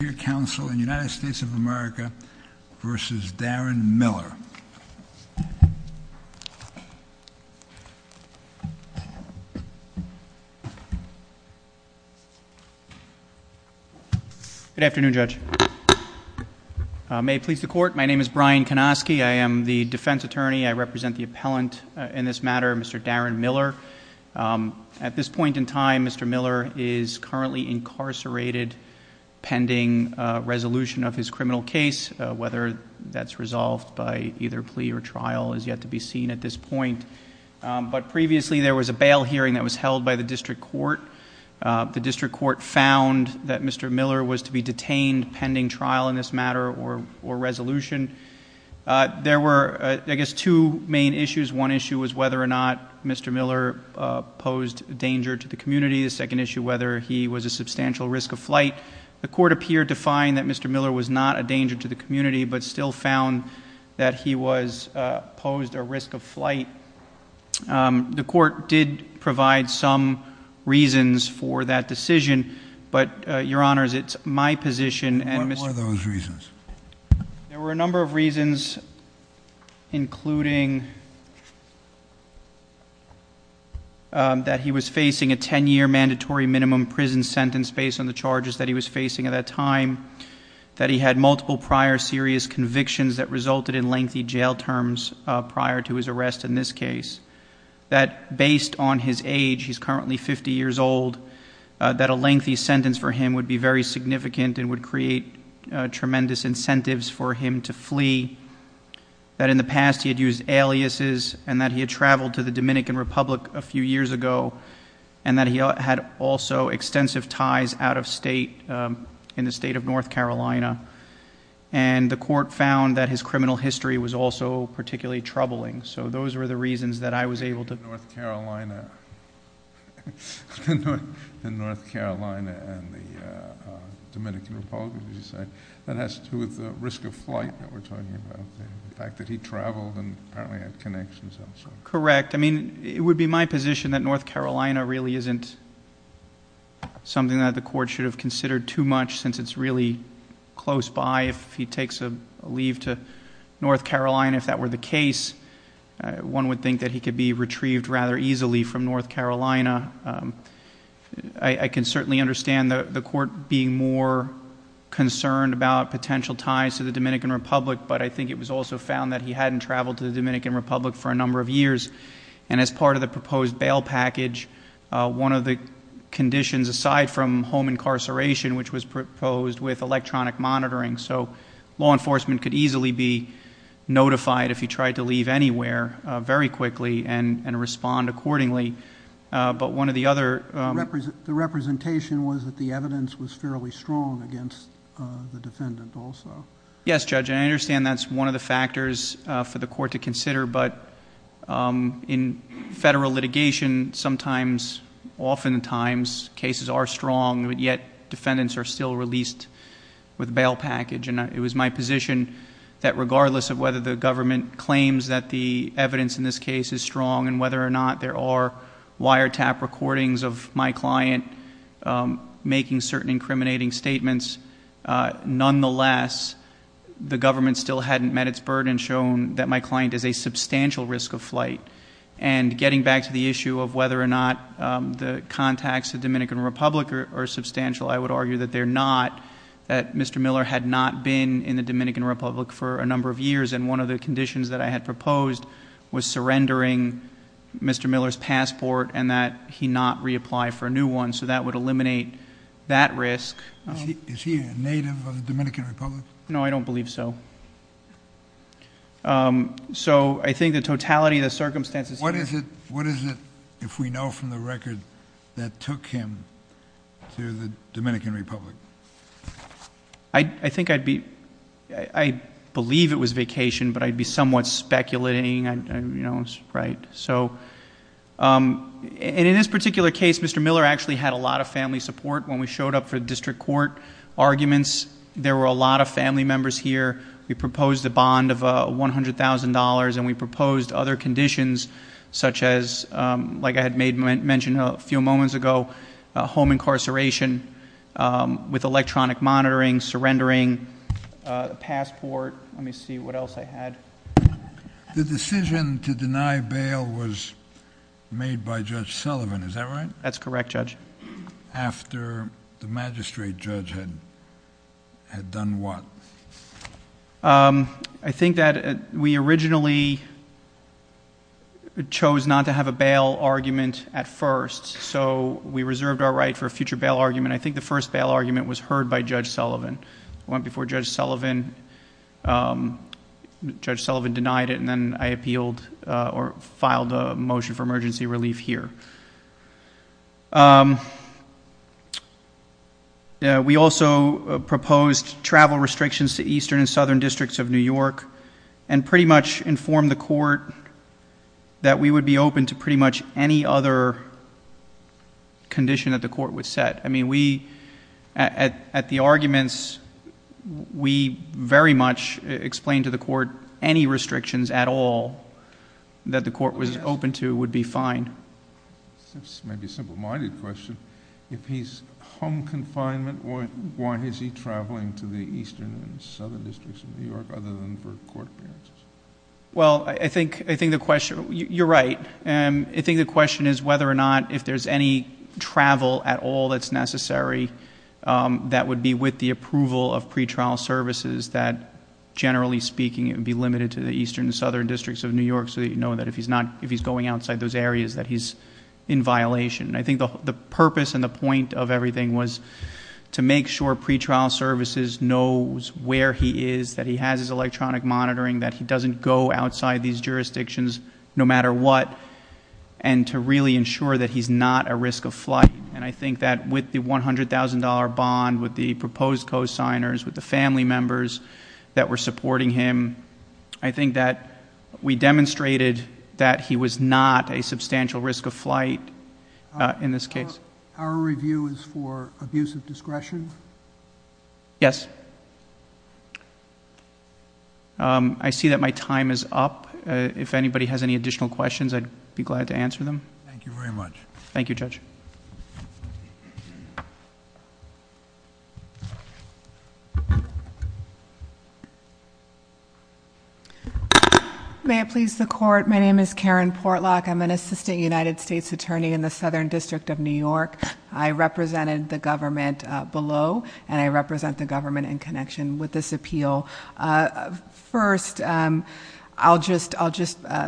Your counsel in United States of America v. Darren Miller. Good afternoon, Judge. May it please the Court, my name is Brian Konoski. I am the defense attorney. I represent the appellant in this matter, Mr. Darren Miller. At this point in time, Mr. Miller is currently incarcerated pending resolution of his criminal case. Whether that's resolved by either plea or trial is yet to be seen at this point. But previously there was a bail hearing that was held by the district court. The district court found that Mr. Miller was to be detained pending trial in this matter or resolution. There were, I guess, two main issues. One issue was whether or not Mr. Miller posed danger to the community. The second issue, whether he was a substantial risk of flight. The court appeared to find that Mr. Miller was not a danger to the community, but still found that he was posed a risk of flight. The court did provide some reasons for that decision. But, Your Honors, it's my position. What were those reasons? There were a number of reasons, including that he was facing a 10-year mandatory minimum prison sentence based on the charges that he was facing at that time. That he had multiple prior serious convictions that resulted in lengthy jail terms prior to his arrest in this case. That based on his age, he's currently 50 years old, that a lengthy sentence for him would be very significant and would create tremendous incentives for him to flee. That in the past he had used aliases and that he had traveled to the Dominican Republic a few years ago. And that he had also extensive ties out of state, in the state of North Carolina. And the court found that his criminal history was also particularly troubling. So those were the reasons that I was able to... In North Carolina and the Dominican Republic, as you say. That has to do with the risk of flight that we're talking about. The fact that he traveled and apparently had connections also. Correct. I mean, it would be my position that North Carolina really isn't something that the court should have considered too much, since it's really close by. If he takes a leave to North Carolina, if that were the case, one would think that he could be retrieved rather easily from North Carolina. I can certainly understand the court being more concerned about potential ties to the Dominican Republic, but I think it was also found that he hadn't traveled to the Dominican Republic for a number of years. And as part of the proposed bail package, one of the conditions aside from home incarceration, which was proposed with electronic monitoring. So law enforcement could easily be notified if he tried to leave anywhere very quickly and respond accordingly. But one of the other... The representation was that the evidence was fairly strong against the defendant also. Yes, Judge, and I understand that's one of the factors for the court to consider. But in federal litigation, sometimes, oftentimes, cases are strong, but yet defendants are still released with bail package. And it was my position that regardless of whether the government claims that the evidence in this case is strong and whether or not there are wiretap recordings of my client making certain incriminating statements, nonetheless, the government still hadn't met its burden shown that my client is a substantial risk of flight. And getting back to the issue of whether or not the contacts to the Dominican Republic are substantial, I would argue that they're not, that Mr. Miller had not been in the Dominican Republic for a number of years. And one of the conditions that I had proposed was surrendering Mr. Miller's passport and that he not reapply for a new one. So that would eliminate that risk. Is he a native of the Dominican Republic? No, I don't believe so. So I think the totality of the circumstances... What is it, if we know from the record, that took him to the Dominican Republic? I think I'd be, I believe it was vacation, but I'd be somewhat speculating. In this particular case, Mr. Miller actually had a lot of family support when we showed up for district court arguments. There were a lot of family members here. We proposed a bond of $100,000 and we proposed other conditions such as, like I had mentioned a few moments ago, home incarceration with electronic monitoring, surrendering the passport. Let me see what else I had. The decision to deny bail was made by Judge Sullivan, is that right? That's correct, Judge. After the magistrate judge had done what? I think that we originally chose not to have a bail argument at first, so we reserved our right for a future bail argument. I think the first bail argument was heard by Judge Sullivan. It went before Judge Sullivan. Judge Sullivan denied it and then I appealed or filed a motion for emergency relief here. We also proposed travel restrictions to eastern and southern districts of New York and pretty much informed the court that we would be open to pretty much any other condition that the court would set. At the arguments, we very much explained to the court any restrictions at all that the court was open to would be fine. This may be a simple-minded question. If he's home confinement, why is he traveling to the eastern and southern districts of New York other than for court appearances? Well, I think the question... you're right. I think the question is whether or not if there's any travel at all that's necessary that would be with the approval of pretrial services that generally speaking it would be limited to the eastern and southern districts of New York so that you know that if he's going outside those areas that he's in violation. I think the purpose and the point of everything was to make sure pretrial services knows where he is, that he has his electronic monitoring, that he doesn't go outside these jurisdictions no matter what, and to really ensure that he's not a risk of flight. I think that with the $100,000 bond, with the proposed co-signers, with the family members that were supporting him, I think that we demonstrated that he was not a substantial risk of flight in this case. Our review is for abuse of discretion? Yes. I see that my time is up. If anybody has any additional questions, I'd be glad to answer them. Thank you very much. Thank you, Judge. May it please the Court, my name is Karen Portlock. I'm an assistant United States attorney in the Southern District of New York. I represented the government below, and I represent the government in connection with this appeal. First, I'll just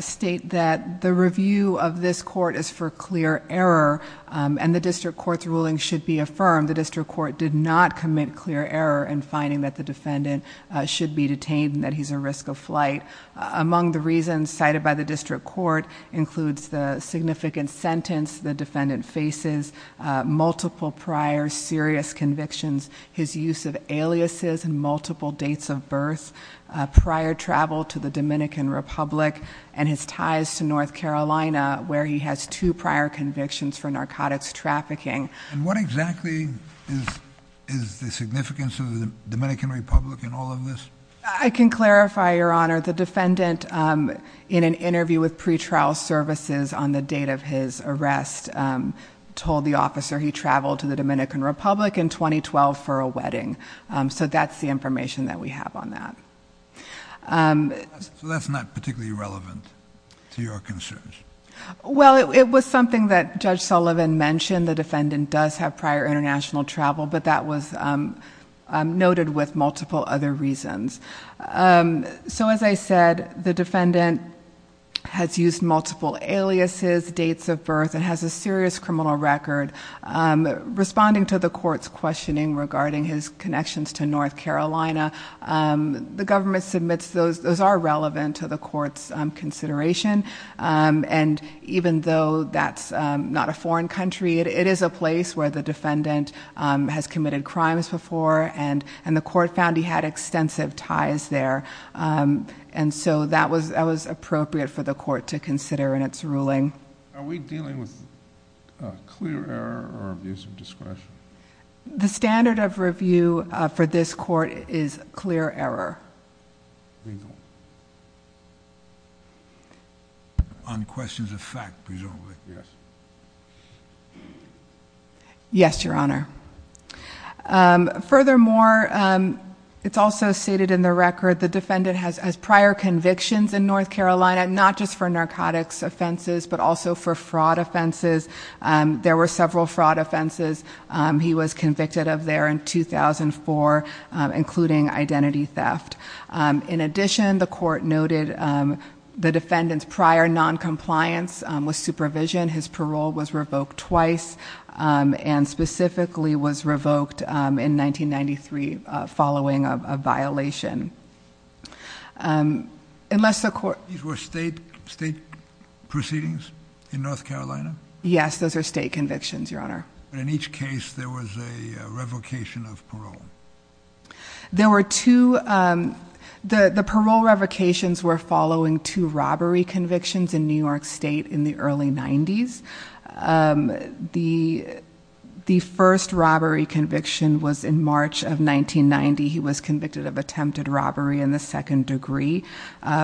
state that the review of this court is for clear error, and the district court's ruling should be affirmed. The district court did not commit clear error in finding that the defendant should be detained and that he's a risk of flight. Among the reasons cited by the district court includes the significant sentence the defendant faces, multiple prior serious convictions, his use of aliases and multiple dates of birth, prior travel to the Dominican Republic, and his ties to North Carolina, where he has two prior convictions for narcotics trafficking. And what exactly is the significance of the Dominican Republic in all of this? I can clarify, Your Honor. The defendant, in an interview with pretrial services on the date of his arrest, told the officer he traveled to the Dominican Republic in 2012 for a wedding. So that's the information that we have on that. So that's not particularly relevant to your concerns? Well, it was something that Judge Sullivan mentioned. The defendant does have prior international travel, but that was noted with multiple other reasons. So as I said, the defendant has used multiple aliases, dates of birth, and has a serious criminal record. Responding to the court's questioning regarding his connections to North Carolina, the government submits those. Those are relevant to the court's consideration. And even though that's not a foreign country, it is a place where the defendant has committed crimes before, and the court found he had extensive ties there. And so that was appropriate for the court to consider in its ruling. Are we dealing with clear error or abuse of discretion? The standard of review for this court is clear error. On questions of fact, presumably. Yes, Your Honor. Furthermore, it's also stated in the record the defendant has prior convictions in North Carolina, not just for narcotics offenses, but also for fraud offenses. There were several fraud offenses he was convicted of there in 2004, including identity theft. In addition, the court noted the defendant's prior noncompliance with supervision. His parole was revoked twice, and specifically was revoked in 1993 following a violation. Unless the court... These were state proceedings in North Carolina? Yes, those are state convictions, Your Honor. But in each case there was a revocation of parole. The parole revocations were following two robbery convictions in New York State in the early 90s. The first robbery conviction was in March of 1990. He was convicted of attempted robbery in the second degree.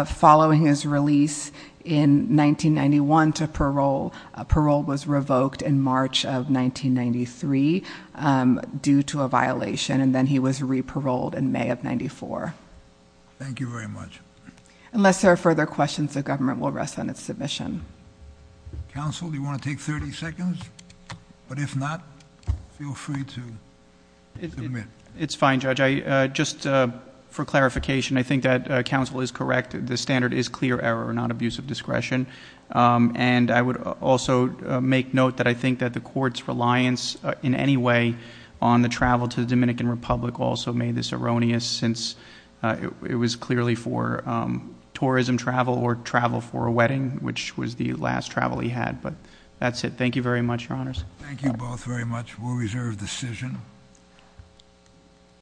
Following his release in 1991 to parole, parole was revoked in March of 1993 due to a violation, and then he was re-paroled in May of 94. Thank you very much. Unless there are further questions, the government will rest on its submission. Counsel, do you want to take 30 seconds? But if not, feel free to submit. It's fine, Judge. Just for clarification, I think that counsel is correct. The standard is clear error, not abuse of discretion. And I would also make note that I think that the court's reliance in any way on the travel to the Dominican Republic also made this erroneous since it was clearly for tourism travel or travel for a wedding, which was the last travel he had. But that's it. Thank you very much, Your Honors. Thank you both very much. We'll reserve decision.